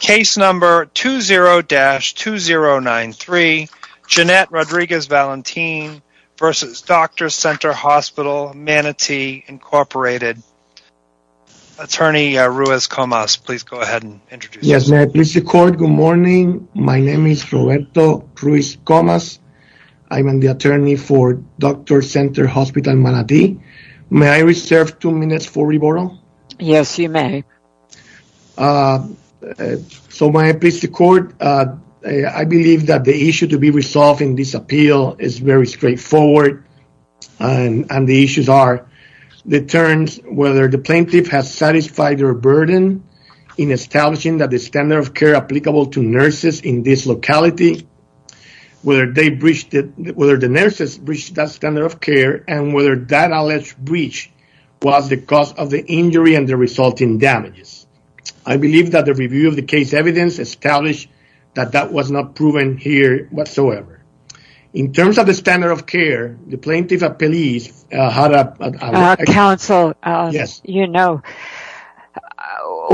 Case number 20-2093, Jeanette Rodriguez-Valentin v. Doctors' Center Hospital, Manati, Incorporated. Attorney Ruiz Comas, please go ahead and introduce yourself. Yes, may I please record? Good morning. My name is Roberto Ruiz Comas. I'm the attorney for Doctors' Center Hospital, Manati. May I reserve two minutes for re-borrow? Yes, you may. So, may I please record? I believe that the issue to be resolved in this appeal is very straightforward. And the issues are the terms, whether the plaintiff has satisfied their burden in establishing that the standard of care applicable to nurses in this locality, whether the nurses reached that standard of care, and whether that alleged breach was the cause of the injury and the resulting damages. I believe that the review of the case evidence established that that was not proven here whatsoever. In terms of the standard of care, the plaintiff appealed... Counsel, you know,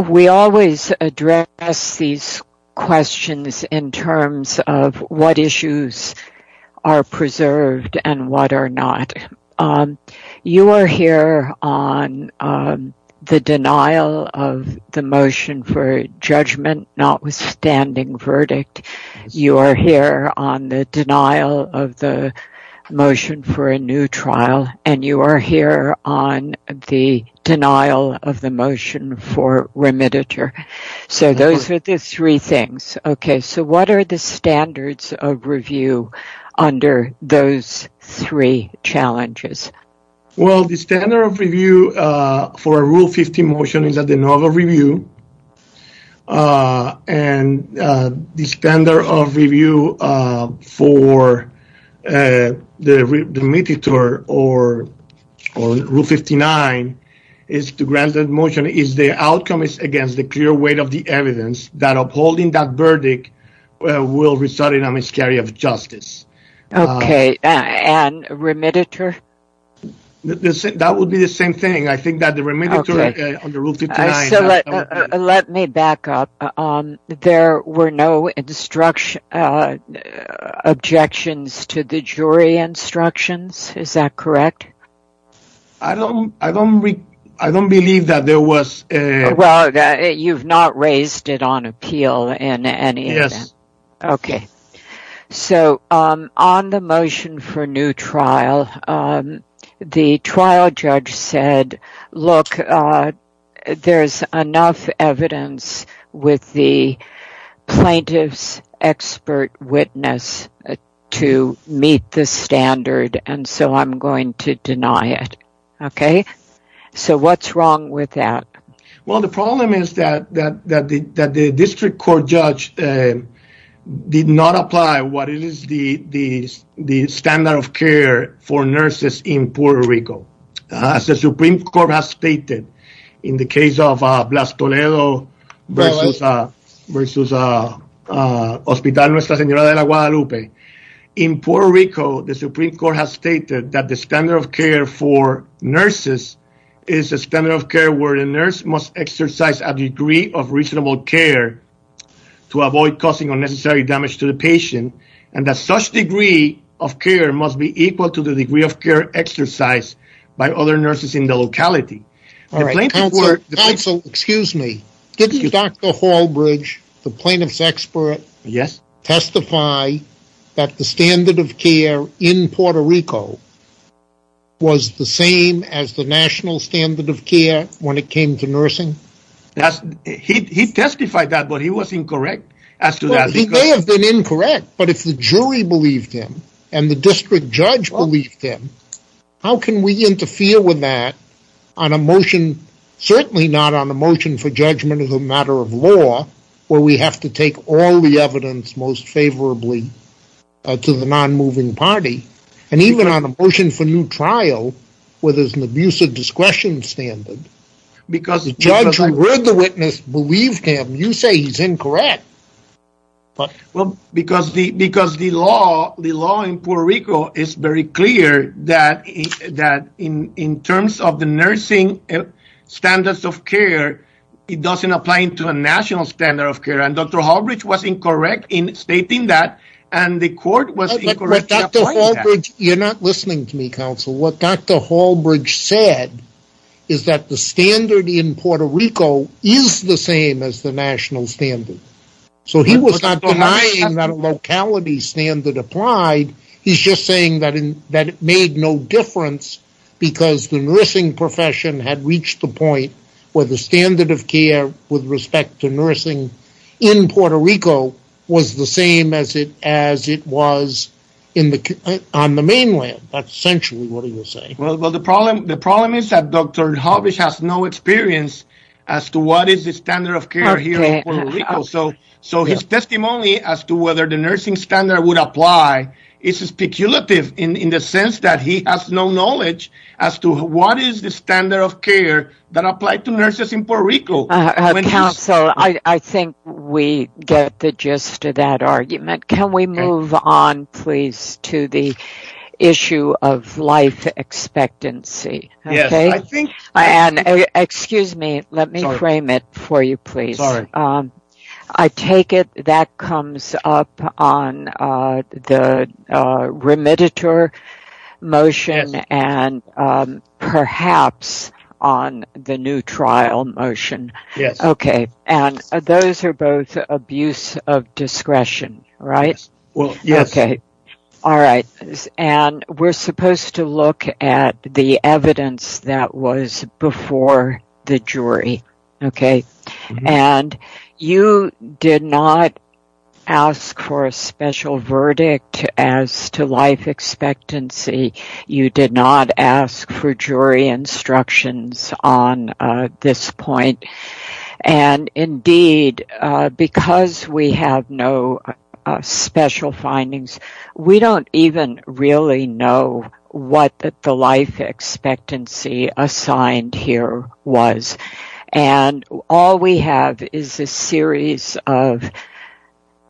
we always address these questions in terms of what issues are preserved and what are not. You are here on the denial of the motion for judgment, notwithstanding verdict. You are here on the denial of the motion for a new trial, and you are here on the denial of the motion for remediature. So, those are the three things. Okay, so what are the standards of review under those three challenges? Well, the standard of review for a Rule 15 motion is a denial of review. And the standard of review for the remediator or Rule 59 is to grant that motion if the outcome is against the clear weight of the evidence, that upholding that verdict will result in a miscarriage of justice. Okay, and remediator? That would be the same thing. I think that the remediator under Rule 59... Let me back up. There were no objections to the jury instructions, is that correct? I don't believe that there was... Well, you've not raised it on appeal in any event. Yes. Okay, so on the motion for new trial, the trial judge said, Look, there's enough evidence with the plaintiff's expert witness to meet the standard, and so I'm going to deny it. Okay, so what's wrong with that? Well, the problem is that the district court judge did not apply what is the standard of care for nurses in Puerto Rico. As the Supreme Court has stated in the case of Blas Toledo versus Hospital Nuestra Señora de Guadalupe, In Puerto Rico, the Supreme Court has stated that the standard of care for nurses is a standard of care where a nurse must exercise a degree of reasonable care to avoid causing unnecessary damage to the patient, and that such degree of care must be equal to the degree of care exercised by other nurses in the locality. Counsel, excuse me, didn't Dr. Hallbridge, the plaintiff's expert, testify that the standard of care in Puerto Rico was the same as the national standard of care when it came to nursing? He testified that, but he was incorrect as to that. He may have been incorrect, but if the jury believed him, and the district judge believed him, how can we interfere with that on a motion, certainly not on a motion for judgment as a matter of law, where we have to take all the evidence most favorably to the non-moving party, and even on a motion for new trial where there's an abuse of discretion standard, Judge, we're the witness. Believe him. You say he's incorrect. Well, because the law in Puerto Rico is very clear that in terms of the nursing standards of care, it doesn't apply to a national standard of care, and Dr. Hallbridge was incorrect in stating that, and the court was incorrect in applying that. You're not listening to me, Counsel. What Dr. Hallbridge said is that the standard in Puerto Rico is the same as the national standard, so he was not denying that a locality standard applied. He's just saying that it made no difference because the nursing profession had reached the point where the standard of care with respect to nursing in Puerto Rico was the same as it was on the mainland. That's essentially what he was saying. Well, the problem is that Dr. Hallbridge has no experience as to what is the standard of care here in Puerto Rico, so his testimony as to whether the nursing standard would apply is speculative in the sense that he has no knowledge as to what is the standard of care that applied to nurses in Puerto Rico. Counsel, I think we get the gist of that argument. Can we move on, please, to the issue of life expectancy? Excuse me, let me frame it for you, please. I take it that comes up on the remediator motion and perhaps on the new trial motion, and those are both abuse of discretion, right? We're supposed to look at the evidence that was before the jury. You did not ask for a special verdict as to life expectancy. You did not ask for jury instructions on this point. Indeed, because we have no special findings, we don't even really know what the life expectancy assigned here was. All we have is a series of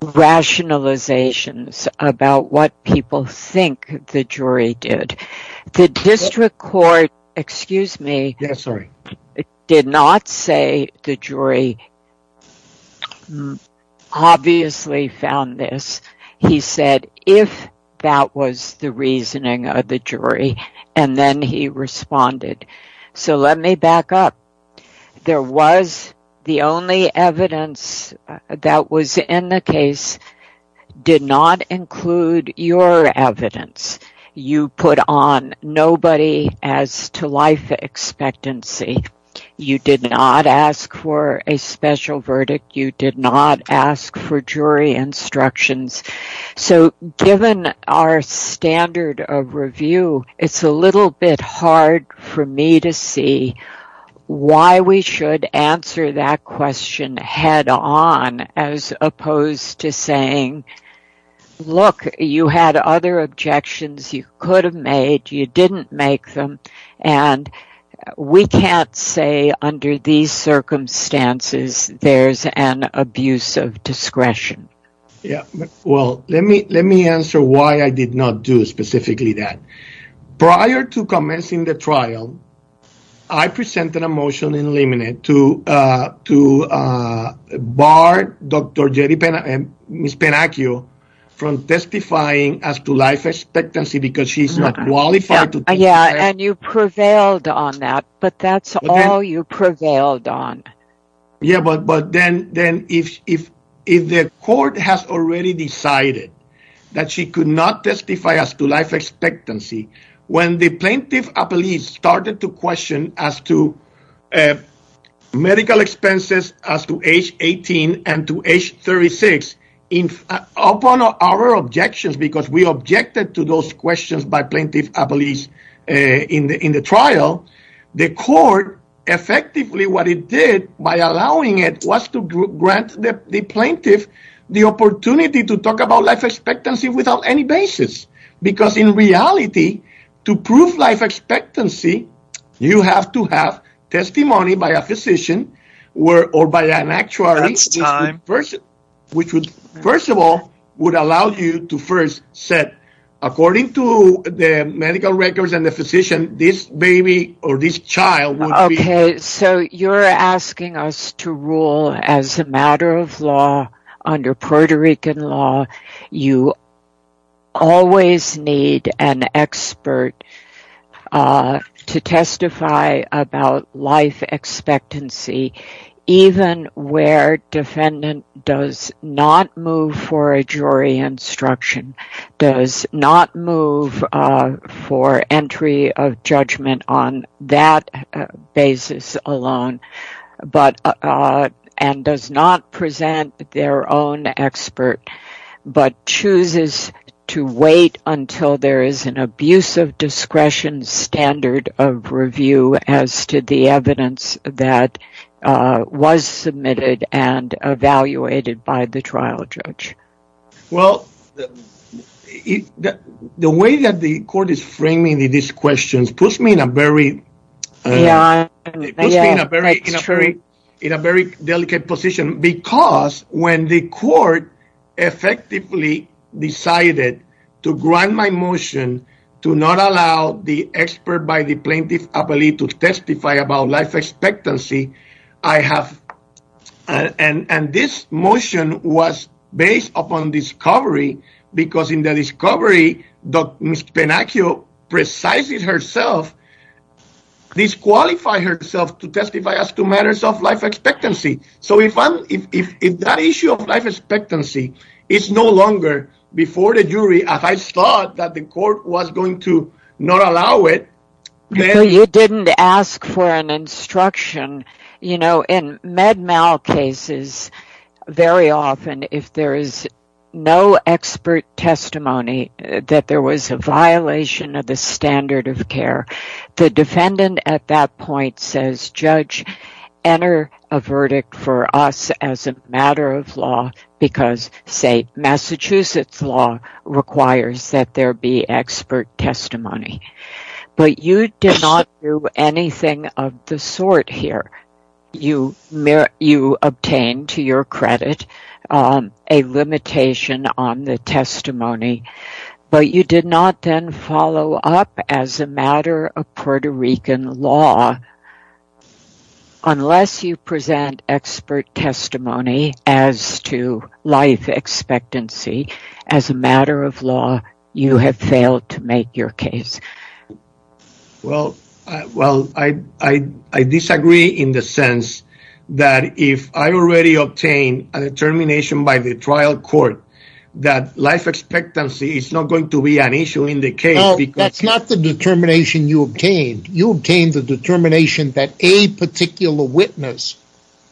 rationalizations about what people think the jury did. The district court, excuse me, did not say the jury obviously found this. He said if that was the reasoning of the jury, and then he responded. So let me back up. There was the only evidence that was in the case did not include your evidence. You put on nobody as to life expectancy. You did not ask for a special verdict. You did not ask for jury instructions. So given our standard of review, it's a little bit hard for me to see why we should answer that question head on as opposed to saying, look, you had other objections you could have made, you didn't make them, and we can't say under these circumstances there's an abuse of discretion. Yeah, well, let me let me answer why I did not do specifically that. Prior to commencing the trial, I presented a motion in limine to to bar Dr. Jetty and Ms. Penacchio from testifying as to life expectancy because she's not qualified to testify. Yeah, and you prevailed on that, but that's all you prevailed on. Yeah, but but then then if if if the court has already decided that she could not testify as to life expectancy, when the plaintiff a police started to question as to medical expenses as to age 18 and to age 36 in upon our objections, because we objected to those questions by plaintiff a police in the in the trial. The court effectively what it did by allowing it was to grant the plaintiff the opportunity to talk about life expectancy without any basis, because in reality, to prove life expectancy, you have to have testimony by a physician or by an actuary. First, which would, first of all, would allow you to first set according to the medical records and the physician, this baby or this child. So you're asking us to rule as a matter of law under Puerto Rican law. You always need an expert to testify about life expectancy, even where defendant does not move for a jury instruction, does not move for entry of judgment on that basis alone. But and does not present their own expert, but chooses to wait until there is an abuse of discretion standard of review as to the evidence that was submitted and evaluated by the trial judge. Well, the way that the court is framing these questions puts me in a very in a very delicate position, because when the court effectively decided to grant my motion to not allow the expert by the plaintiff a police to testify about life expectancy. I have and this motion was based upon discovery, because in the discovery, Dr. Penacchio precisely herself disqualify herself to testify as to matters of life expectancy. So if that issue of life expectancy is no longer before the jury, as I saw that the court was going to not allow it. You didn't ask for an instruction, you know, in med mal cases, very often, if there is no expert testimony that there was a violation of the standard of care, the defendant at that point says, judge, enter a verdict for us as a matter of law, because say, Massachusetts law requires that there be expert testimony. You did not do anything of the sort here, you may you obtain to your credit, a limitation on the testimony, but you did not then follow up as a matter of Puerto Rican law. Unless you present expert testimony as to life expectancy, as a matter of law, you have failed to make your case. Well, I disagree in the sense that if I already obtained a determination by the trial court, that life expectancy is not going to be an issue in the case. No, that's not the determination you obtained. You obtained the determination that a particular witness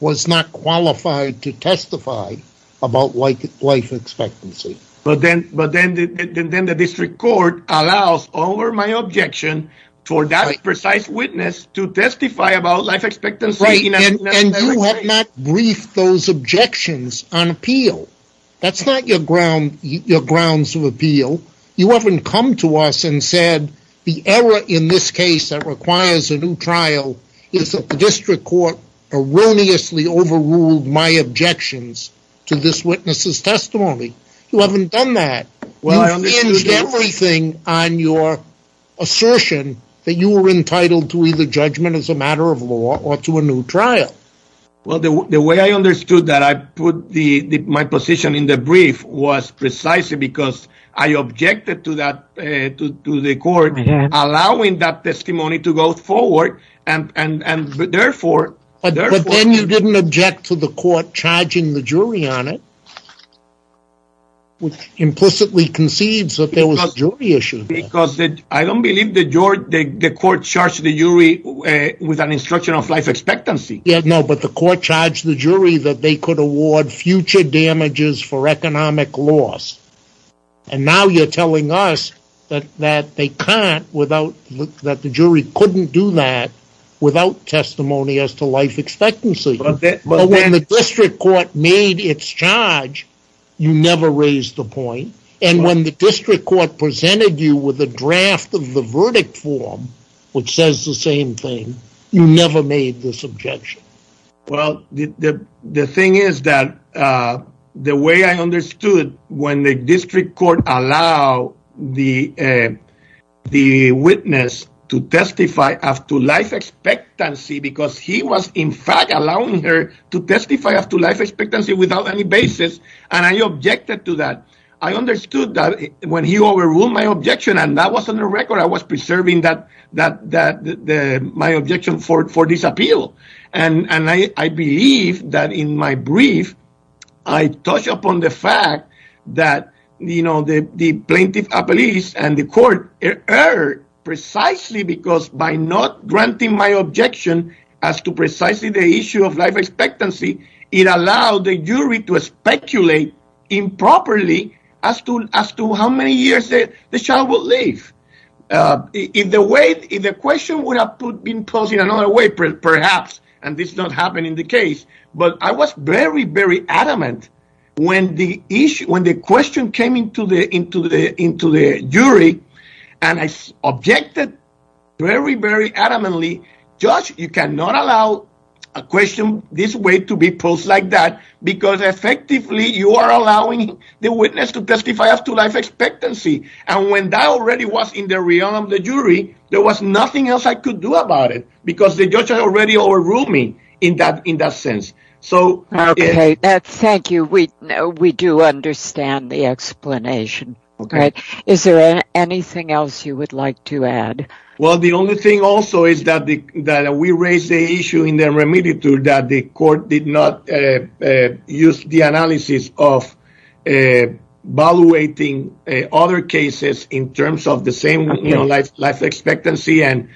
was not qualified to testify about life expectancy. But then the district court allows over my objection for that precise witness to testify about life expectancy. And you have not briefed those objections on appeal. That's not your grounds of appeal. You haven't come to us and said, the error in this case that requires a new trial is that the district court erroneously overruled my objections to this witness's testimony. You haven't done that. You've hinged everything on your assertion that you were entitled to either judgment as a matter of law or to a new trial. Well, the way I understood that I put my position in the brief was precisely because I objected to the court allowing that testimony to go forward and therefore... But then you didn't object to the court charging the jury on it, which implicitly concedes that there was a jury issue there. Because I don't believe the court charged the jury with an instruction of life expectancy. No, but the court charged the jury that they could award future damages for economic loss. And now you're telling us that the jury couldn't do that without testimony as to life expectancy. But when the district court made its charge, you never raised the point. And when the district court presented you with a draft of the verdict form, which says the same thing, you never made this objection. Well, the thing is that the way I understood when the district court allowed the witness to testify as to life expectancy because he was in fact allowing her to testify as to life expectancy without any basis, and I objected to that. I understood that when he overruled my objection, and that was on the record, I was preserving my objection for this appeal. And I believe that in my brief, I touch upon the fact that the plaintiff appealed and the court erred precisely because by not granting my objection as to precisely the issue of life expectancy, it allowed the jury to speculate improperly as to how many years the child would live. If the question would have been posed in another way, perhaps, and this did not happen in the case, but I was very, very adamant when the question came into the jury, and I objected very, very adamantly, judge, you cannot allow a question this way to be posed like that because effectively you are allowing the witness to testify as to life expectancy. And when that already was in the realm of the jury, there was nothing else I could do about it because the judge had already overruled me in that sense. Thank you. We do understand the explanation. Is there anything else you would like to add? Well, the only thing also is that we raised the issue in the remediatory that the court did not use the analysis of evaluating other cases in terms of the same life expectancy and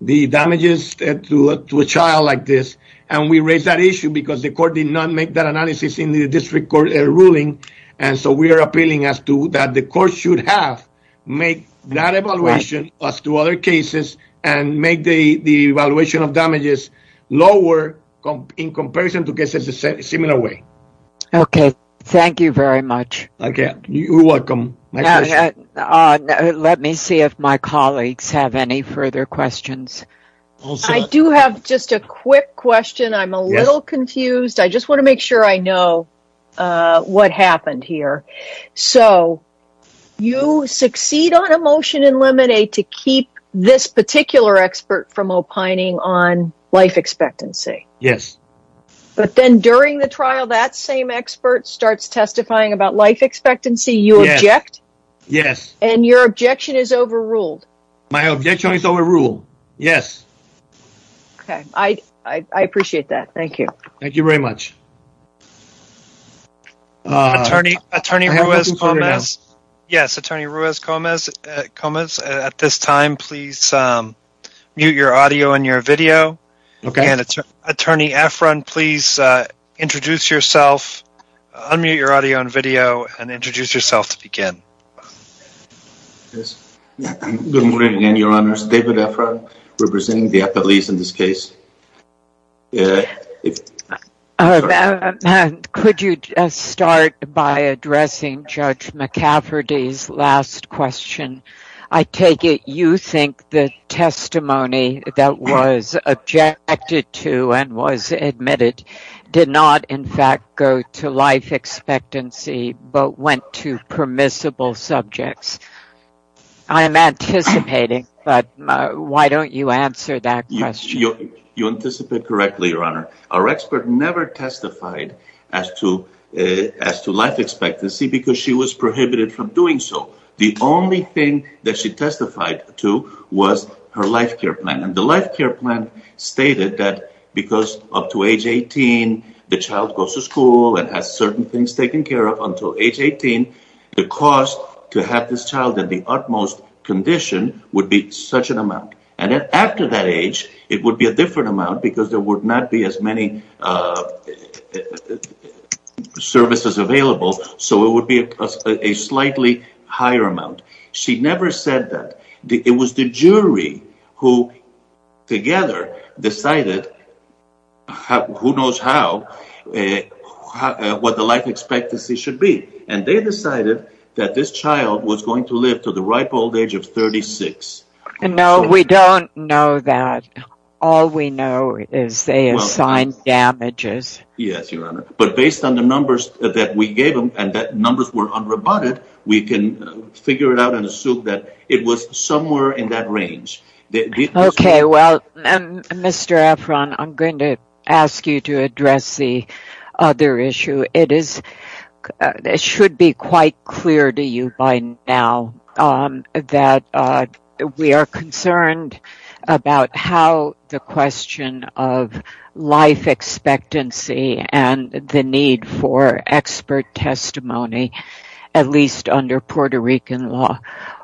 the damages to a child like this. And we raised that issue because the court did not make that analysis in the district court ruling. And so we are appealing as to that the court should have made that evaluation as to other cases and make the evaluation of damages lower in comparison to cases in a similar way. Okay. Thank you very much. You're welcome. Let me see if my colleagues have any further questions. I do have just a quick question. I'm a little confused. I just want to make sure I know what happened here. So you succeed on a motion in limine to keep this particular expert from opining on life expectancy. Yes. But then during the trial, that same expert starts testifying about life expectancy. You object. Yes. And your objection is overruled. My objection is overruled. Yes. Okay. I appreciate that. Thank you. Thank you very much. Attorney Ruiz-Comez. Yes, Attorney Ruiz-Comez. At this time, please mute your audio and your video. Okay. Attorney Efron, please introduce yourself, unmute your audio and video, and introduce yourself to begin. Good morning again, Your Honors. David Efron, representing the appellees in this case. Could you start by addressing Judge McCafferty's last question? I take it you think the testimony that was objected to and was admitted did not, in fact, go to life expectancy, but went to permissible subjects. I'm anticipating, but why don't you answer that question? You anticipate correctly, Your Honor. Our expert never testified as to life expectancy because she was prohibited from doing so. The only thing that she testified to was her life care plan, and the life care plan stated that because up to age 18, the child goes to school and has certain things taken care of until age 18, the cost to have this child in the utmost condition would be such an amount. After that age, it would be a different amount because there would not be as many services available, so it would be a slightly higher amount. She never said that. It was the jury who, together, decided who knows how what the life expectancy should be, and they decided that this child was going to live to the ripe old age of 36. No, we don't know that. All we know is they assigned damages. Yes, Your Honor, but based on the numbers that we gave them and that numbers were unrebutted, we can figure it out and assume that it was somewhere in that range. Okay, well, Mr. Efron, I'm going to ask you to address the other issue. It should be quite clear to you by now that we are concerned about how the question of life expectancy and the need for expert testimony, at least under Puerto Rican law,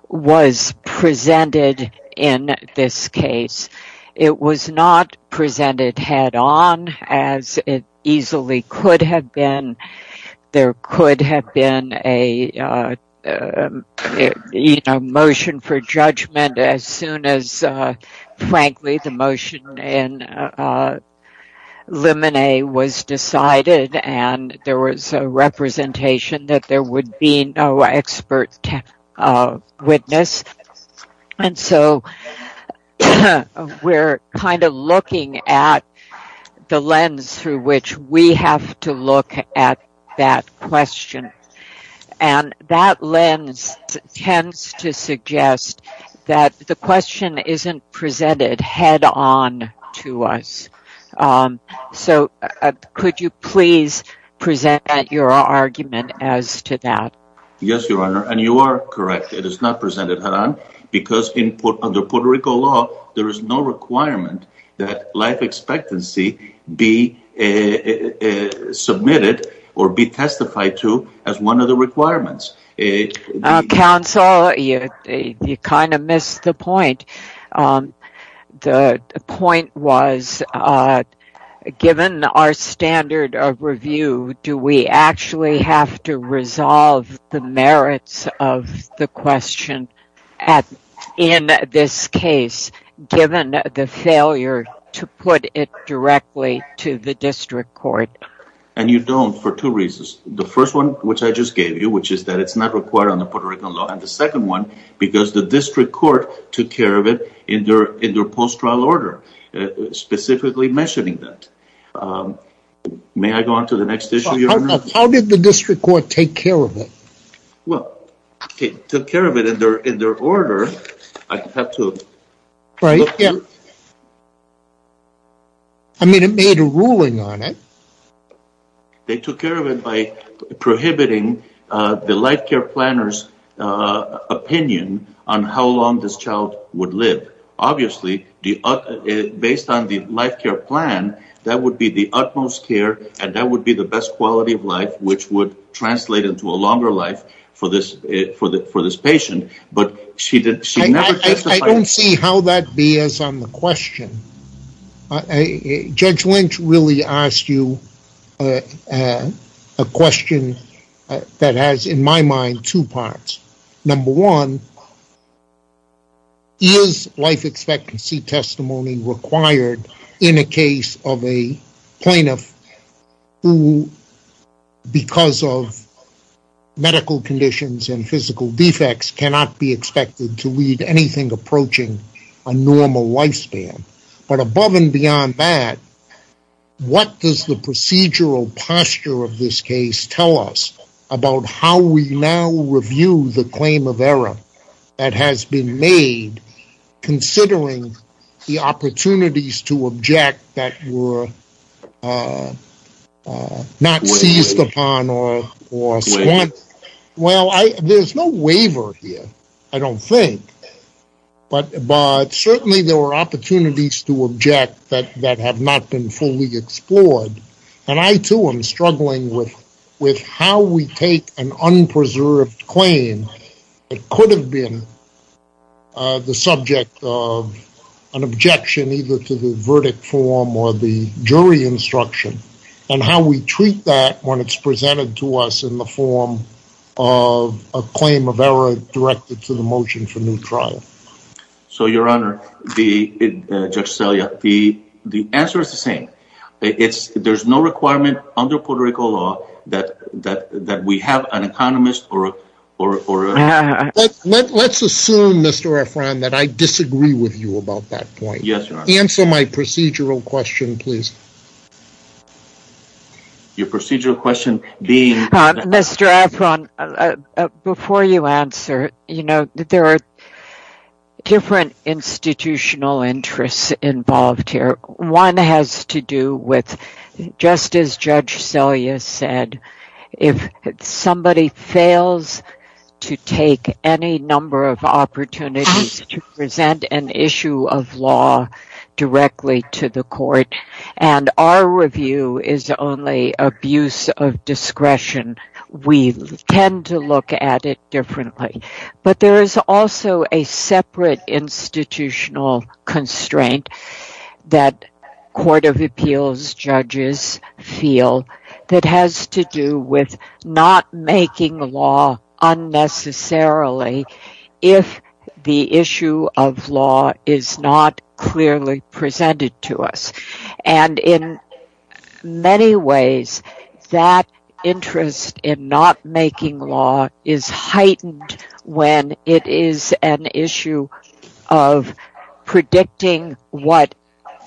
was presented in this case. It was not presented head-on as it easily could have been. There could have been a motion for judgment as soon as, frankly, the motion in limine was decided and there was a representation that there would be no expert witness. And so, we're kind of looking at the lens through which we have to look at that question, and that lens tends to suggest that the question isn't presented head-on to us. So, could you please present your argument as to that? Yes, Your Honor, and you are correct. It is not presented head-on because under Puerto Rican law, there is no requirement that life expectancy be submitted or be testified to as one of the requirements. Counsel, you kind of missed the point. The point was, given our standard of review, do we actually have to resolve the merits of the question in this case, given the failure to put it directly to the district court? And you don't, for two reasons. The first one, which I just gave you, which is that it's not required under Puerto Rican law, and the second one, because the district court took care of it in their post-trial order, specifically mentioning that. May I go on to the next issue, Your Honor? How did the district court take care of it? Well, it took care of it in their order. I have to… Right, yeah. I mean, it made a ruling on it. They took care of it by prohibiting the life care planner's opinion on how long this child would live. Obviously, based on the life care plan, that would be the utmost care, and that would be the best quality of life, which would translate into a longer life for this patient, but she never testified… I don't see how that bears on the question. Judge Lynch really asked you a question that has, in my mind, two parts. Number one, is life expectancy testimony required in a case of a plaintiff who, because of medical conditions and physical defects, cannot be expected to lead anything approaching a normal lifespan? But above and beyond that, what does the procedural posture of this case tell us about how we now review the claim of error that has been made, considering the opportunities to object that were not seized upon or… Well, there's no waiver here, I don't think, but certainly there were opportunities to object that have not been fully explored, and I, too, am struggling with how we take an unpreserved claim that could have been the subject of an objection either to the verdict form or the jury instruction, and how we treat that when it's presented to us in the form of a claim of error directed to the motion for new trial. So, Your Honor, Judge Selya, the answer is the same. There's no requirement under Puerto Rico law that we have an economist or… Let's assume, Mr. Efran, that I disagree with you about that point. Yes, Your Honor. Answer my procedural question, please. Your procedural question being… Before you answer, you know, there are different institutional interests involved here. One has to do with, just as Judge Selya said, if somebody fails to take any number of opportunities to present an issue of law directly to the court, and our review is only abuse of discretion, we tend to look at it differently. But there is also a separate institutional constraint that court of appeals judges feel that has to do with not making law unnecessarily if the issue of law is not clearly presented to us. And in many ways, that interest in not making law is heightened when it is an issue of predicting what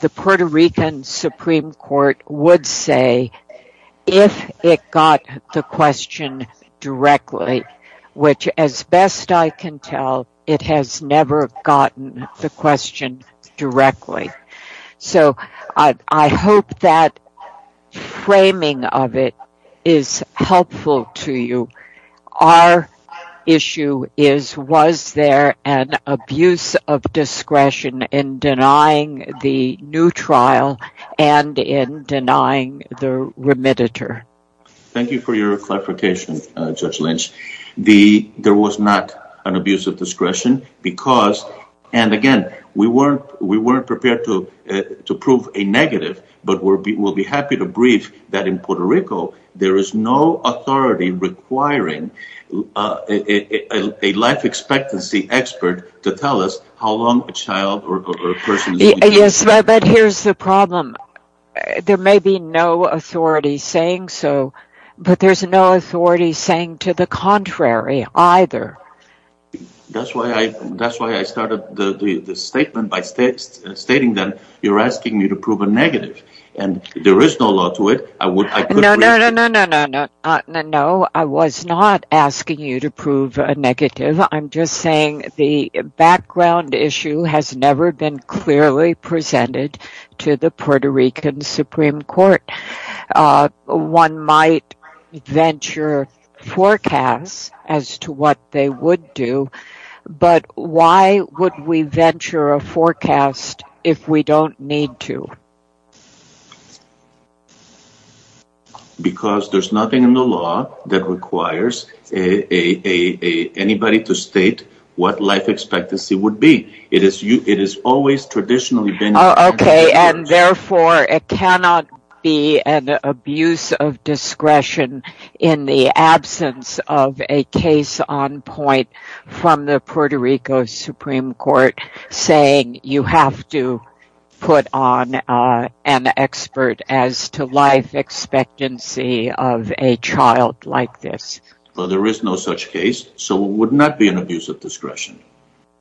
the Puerto Rican Supreme Court would say if it got the question directly, which, as best I can tell, it has never gotten the question directly. So, I hope that framing of it is helpful to you. Our issue is, was there an abuse of discretion in denying the new trial and in denying the remediator? Thank you for your clarification, Judge Lynch. There was not an abuse of discretion because, and again, we weren't prepared to prove a negative, but we'll be happy to brief that in Puerto Rico, there is no authority requiring a life expectancy expert to tell us how long a child or a person… Yes, but here's the problem. There may be no authority saying so, but there's no authority saying to the contrary either. That's why I started the statement by stating that you're asking me to prove a negative, and there is no law to it. No, I was not asking you to prove a negative. I'm just saying the background issue has never been clearly presented to the Puerto Rican Supreme Court. One might venture forecasts as to what they would do, but why would we venture a forecast if we don't need to? Because there's nothing in the law that requires anybody to state what life expectancy would be. It has always traditionally been… Therefore, it cannot be an abuse of discretion in the absence of a case on point from the Puerto Rico Supreme Court saying you have to put on an expert as to life expectancy of a child like this. Well, there is no such case, so it would not be an abuse of discretion.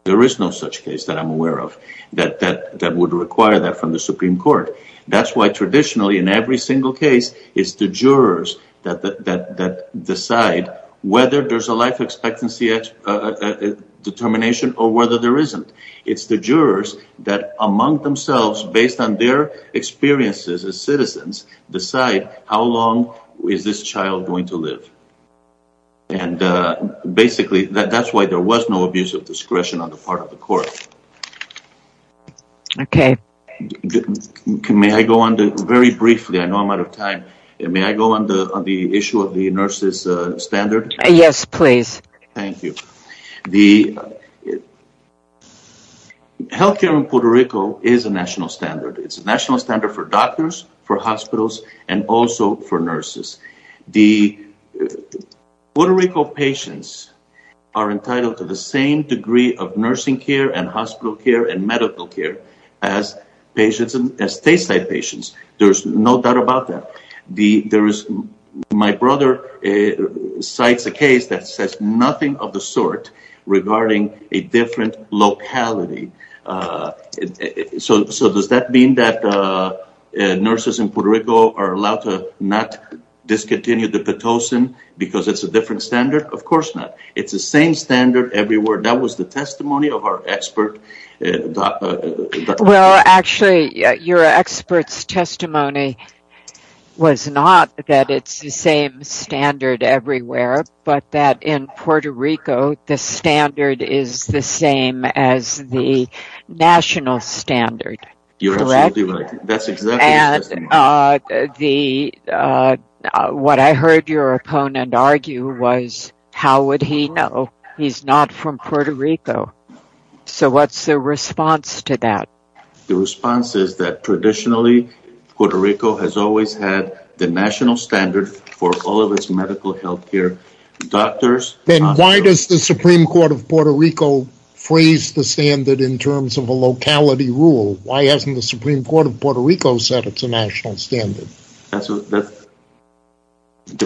There is no such case that I'm aware of that would require that from the Supreme Court. That's why traditionally in every single case it's the jurors that decide whether there's a life expectancy determination or whether there isn't. It's the jurors that among themselves, based on their experiences as citizens, decide how long is this child going to live. Basically, that's why there was no abuse of discretion on the part of the court. Okay. May I go on very briefly? I know I'm out of time. May I go on the issue of the nurse's standard? Yes, please. Thank you. The healthcare in Puerto Rico is a national standard. It's a national standard for doctors, for hospitals, and also for nurses. The Puerto Rico patients are entitled to the same degree of nursing care and hospital care and medical care as stateside patients. There's no doubt about that. My brother cites a case that says nothing of the sort regarding a different locality. Does that mean that nurses in Puerto Rico are allowed to not discontinue the Pitocin because it's a different standard? Of course not. It's the same standard everywhere. That was the testimony of our expert. Well, actually, your expert's testimony was not that it's the same standard everywhere, but that in Puerto Rico, the standard is the same as the national standard. You're absolutely right. That's exactly the same standard. What I heard your opponent argue was, how would he know? He's not from Puerto Rico. So what's the response to that? The response is that traditionally, Puerto Rico has always had the national standard for all of its medical healthcare. Then why does the Supreme Court of Puerto Rico phrase the standard in terms of a locality rule? Why hasn't the Supreme Court of Puerto Rico said it's a national standard? The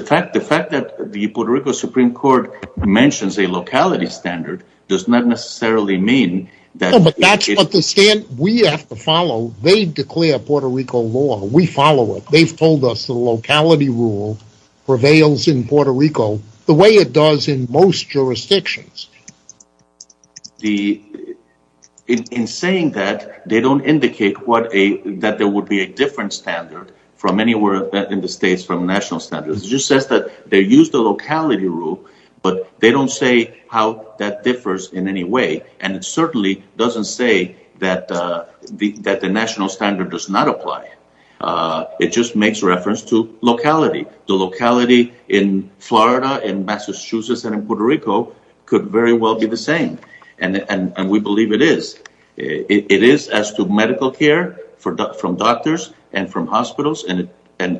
fact that the Puerto Rico Supreme Court mentions a locality standard does not necessarily mean that... But the standard we have to follow, they declare Puerto Rico law. We follow it. They've told us the locality rule prevails in Puerto Rico the way it does in most jurisdictions. In saying that, they don't indicate that there would be a different standard from anywhere in the States from national standards. It just says that they use the locality rule, but they don't say how that differs in any way. It certainly doesn't say that the national standard does not apply. It just makes reference to locality. The locality in Florida, in Massachusetts, and in Puerto Rico could very well be the same. We believe it is. It is as to medical care from doctors and from hospitals.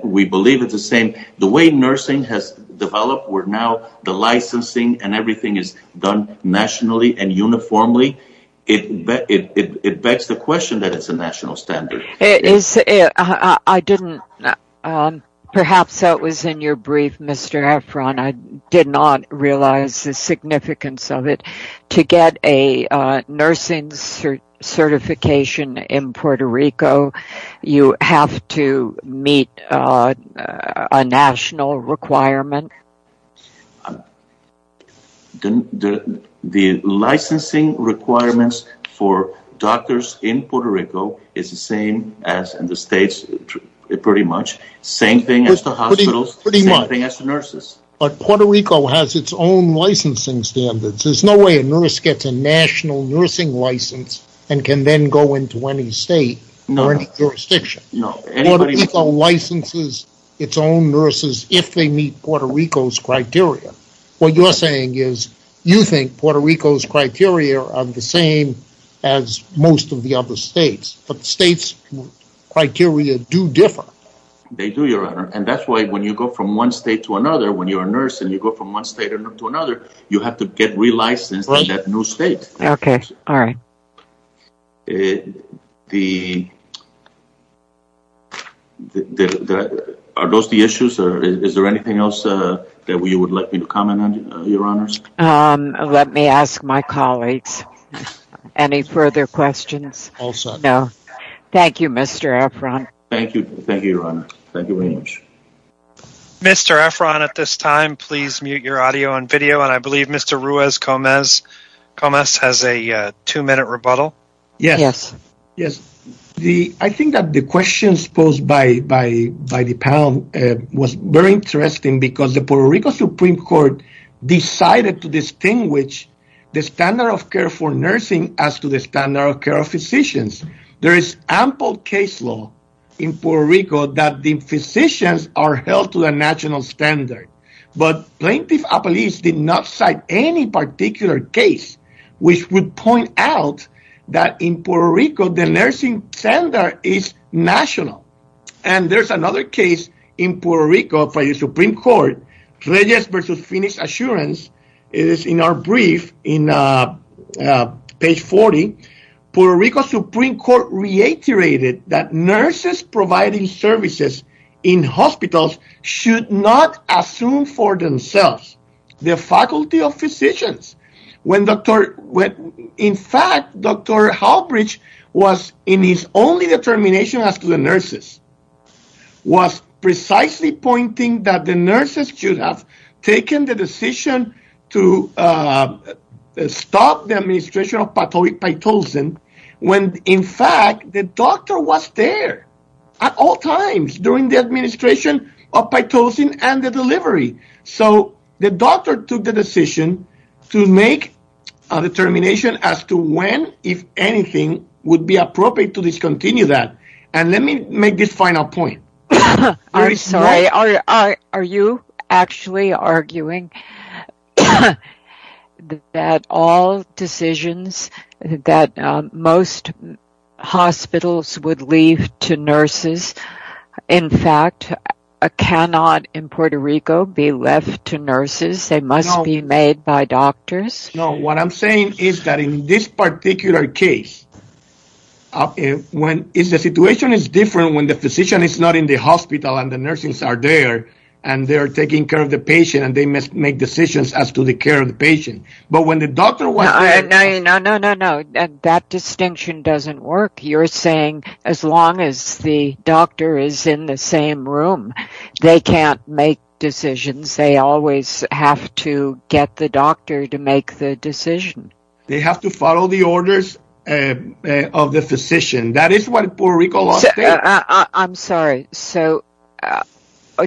We believe it's the same. The way nursing has developed, where now the licensing and everything is done nationally and uniformly, it begs the question that it's a national standard. Perhaps that was in your brief, Mr. Efron. I did not realize the significance of it. To get a nursing certification in Puerto Rico, you have to meet a national requirement? The licensing requirements for doctors in Puerto Rico is the same as in the States, pretty much. Same thing as the hospitals, same thing as the nurses. But Puerto Rico has its own licensing standards. There's no way a nurse gets a national nursing license and can then go into any state or any jurisdiction. Puerto Rico licenses its own nurses if they meet Puerto Rico's criteria. What you're saying is you think Puerto Rico's criteria are the same as most of the other States, but the States' criteria do differ. They do, Your Honor, and that's why when you go from one State to another, when you're a nurse and you go from one State to another, you have to get re-licensed in that new State. Are those the issues? Is there anything else that you would like me to comment on, Your Honors? Let me ask my colleagues. Any further questions? All set. Thank you, Mr. Efron. Thank you, Your Honor. Thank you very much. Mr. Efron, at this time, please mute your audio and video, and I believe Mr. Ruiz Gomez has a two-minute rebuttal. Yes. I think that the questions posed by the panel was very interesting because the Puerto Rico Supreme Court decided to distinguish the standard of care for nursing as to the standard of care for physicians. There is ample case law in Puerto Rico that the physicians are held to a national standard, but Plaintiff's Appeals did not cite any particular case which would point out that in Puerto Rico, the nursing standard is national. There's another case in Puerto Rico by the Supreme Court, Reyes v. Phoenix Assurance. It is in our brief on page 40. Puerto Rico Supreme Court reiterated that nurses providing services in hospitals should not assume for themselves the faculty of physicians. In fact, Dr. Halbridge, in his only determination as to the nurses, was precisely pointing that the nurses should have taken the decision to stop the administration of pathogenic pitocin when, in fact, the doctor was there at all times during the administration of pitocin and the delivery. The doctor took the decision to make a determination as to when, if anything, it would be appropriate to discontinue that. Let me make this final point. I'm sorry. Are you actually arguing that all decisions that most hospitals would leave to nurses, in fact, cannot in Puerto Rico be left to nurses? They must be made by doctors? No. What I'm saying is that in this particular case, the situation is different when the physician is not in the hospital and the nurses are there and they're taking care of the patient and they must make decisions as to the care of the patient. But when the doctor was there… No, no, no, no, no. That distinction doesn't work. You're saying as long as the doctor is in the same room, they can't make decisions. They always have to get the doctor to make the decision. They have to follow the orders of the physician. That is what Puerto Rico… I'm sorry.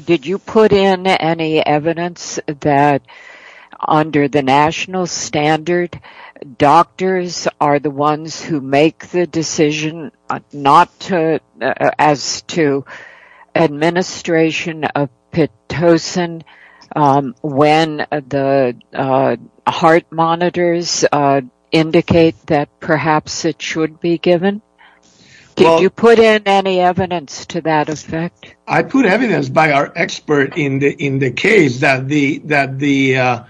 Did you put in any evidence that under the national standard, doctors are the ones who make the decision as to administration of Pitocin when the heart monitors indicate that perhaps it should be given? Did you put in any evidence to that effect? I put evidence by our expert in the case that the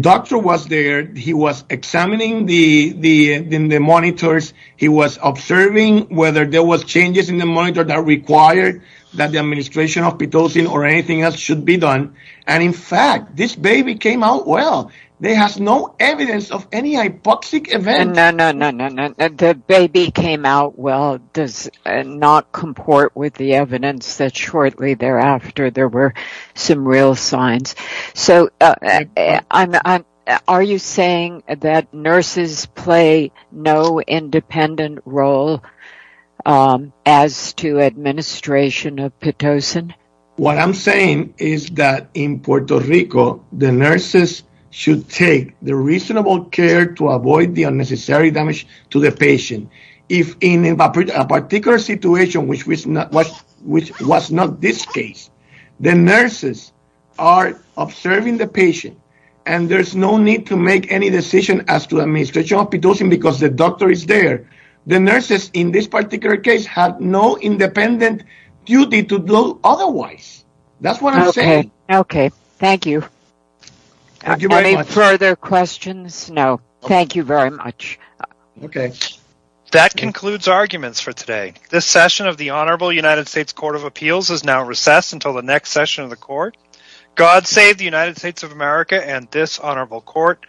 doctor was there. He was examining the monitors. He was observing whether there was changes in the monitor that required that the administration of Pitocin or anything else should be done. And, in fact, this baby came out well. There is no evidence of any hypoxic event. No, no, no, no. The baby came out well does not comport with the evidence that shortly thereafter there were some real signs. So, are you saying that nurses play no independent role as to administration of Pitocin? What I'm saying is that in Puerto Rico, the nurses should take the reasonable care to avoid the unnecessary damage to the patient. If in a particular situation, which was not this case, the nurses are observing the patient and there's no need to make any decision as to administration of Pitocin because the doctor is there. The nurses in this particular case have no independent duty to do otherwise. That's what I'm saying. Okay. Thank you. Any further questions? No. Thank you very much. Okay. That concludes arguments for today. This session of the Honorable United States Court of Appeals is now recessed until the next session of the court. God save the United States of America and this honorable court.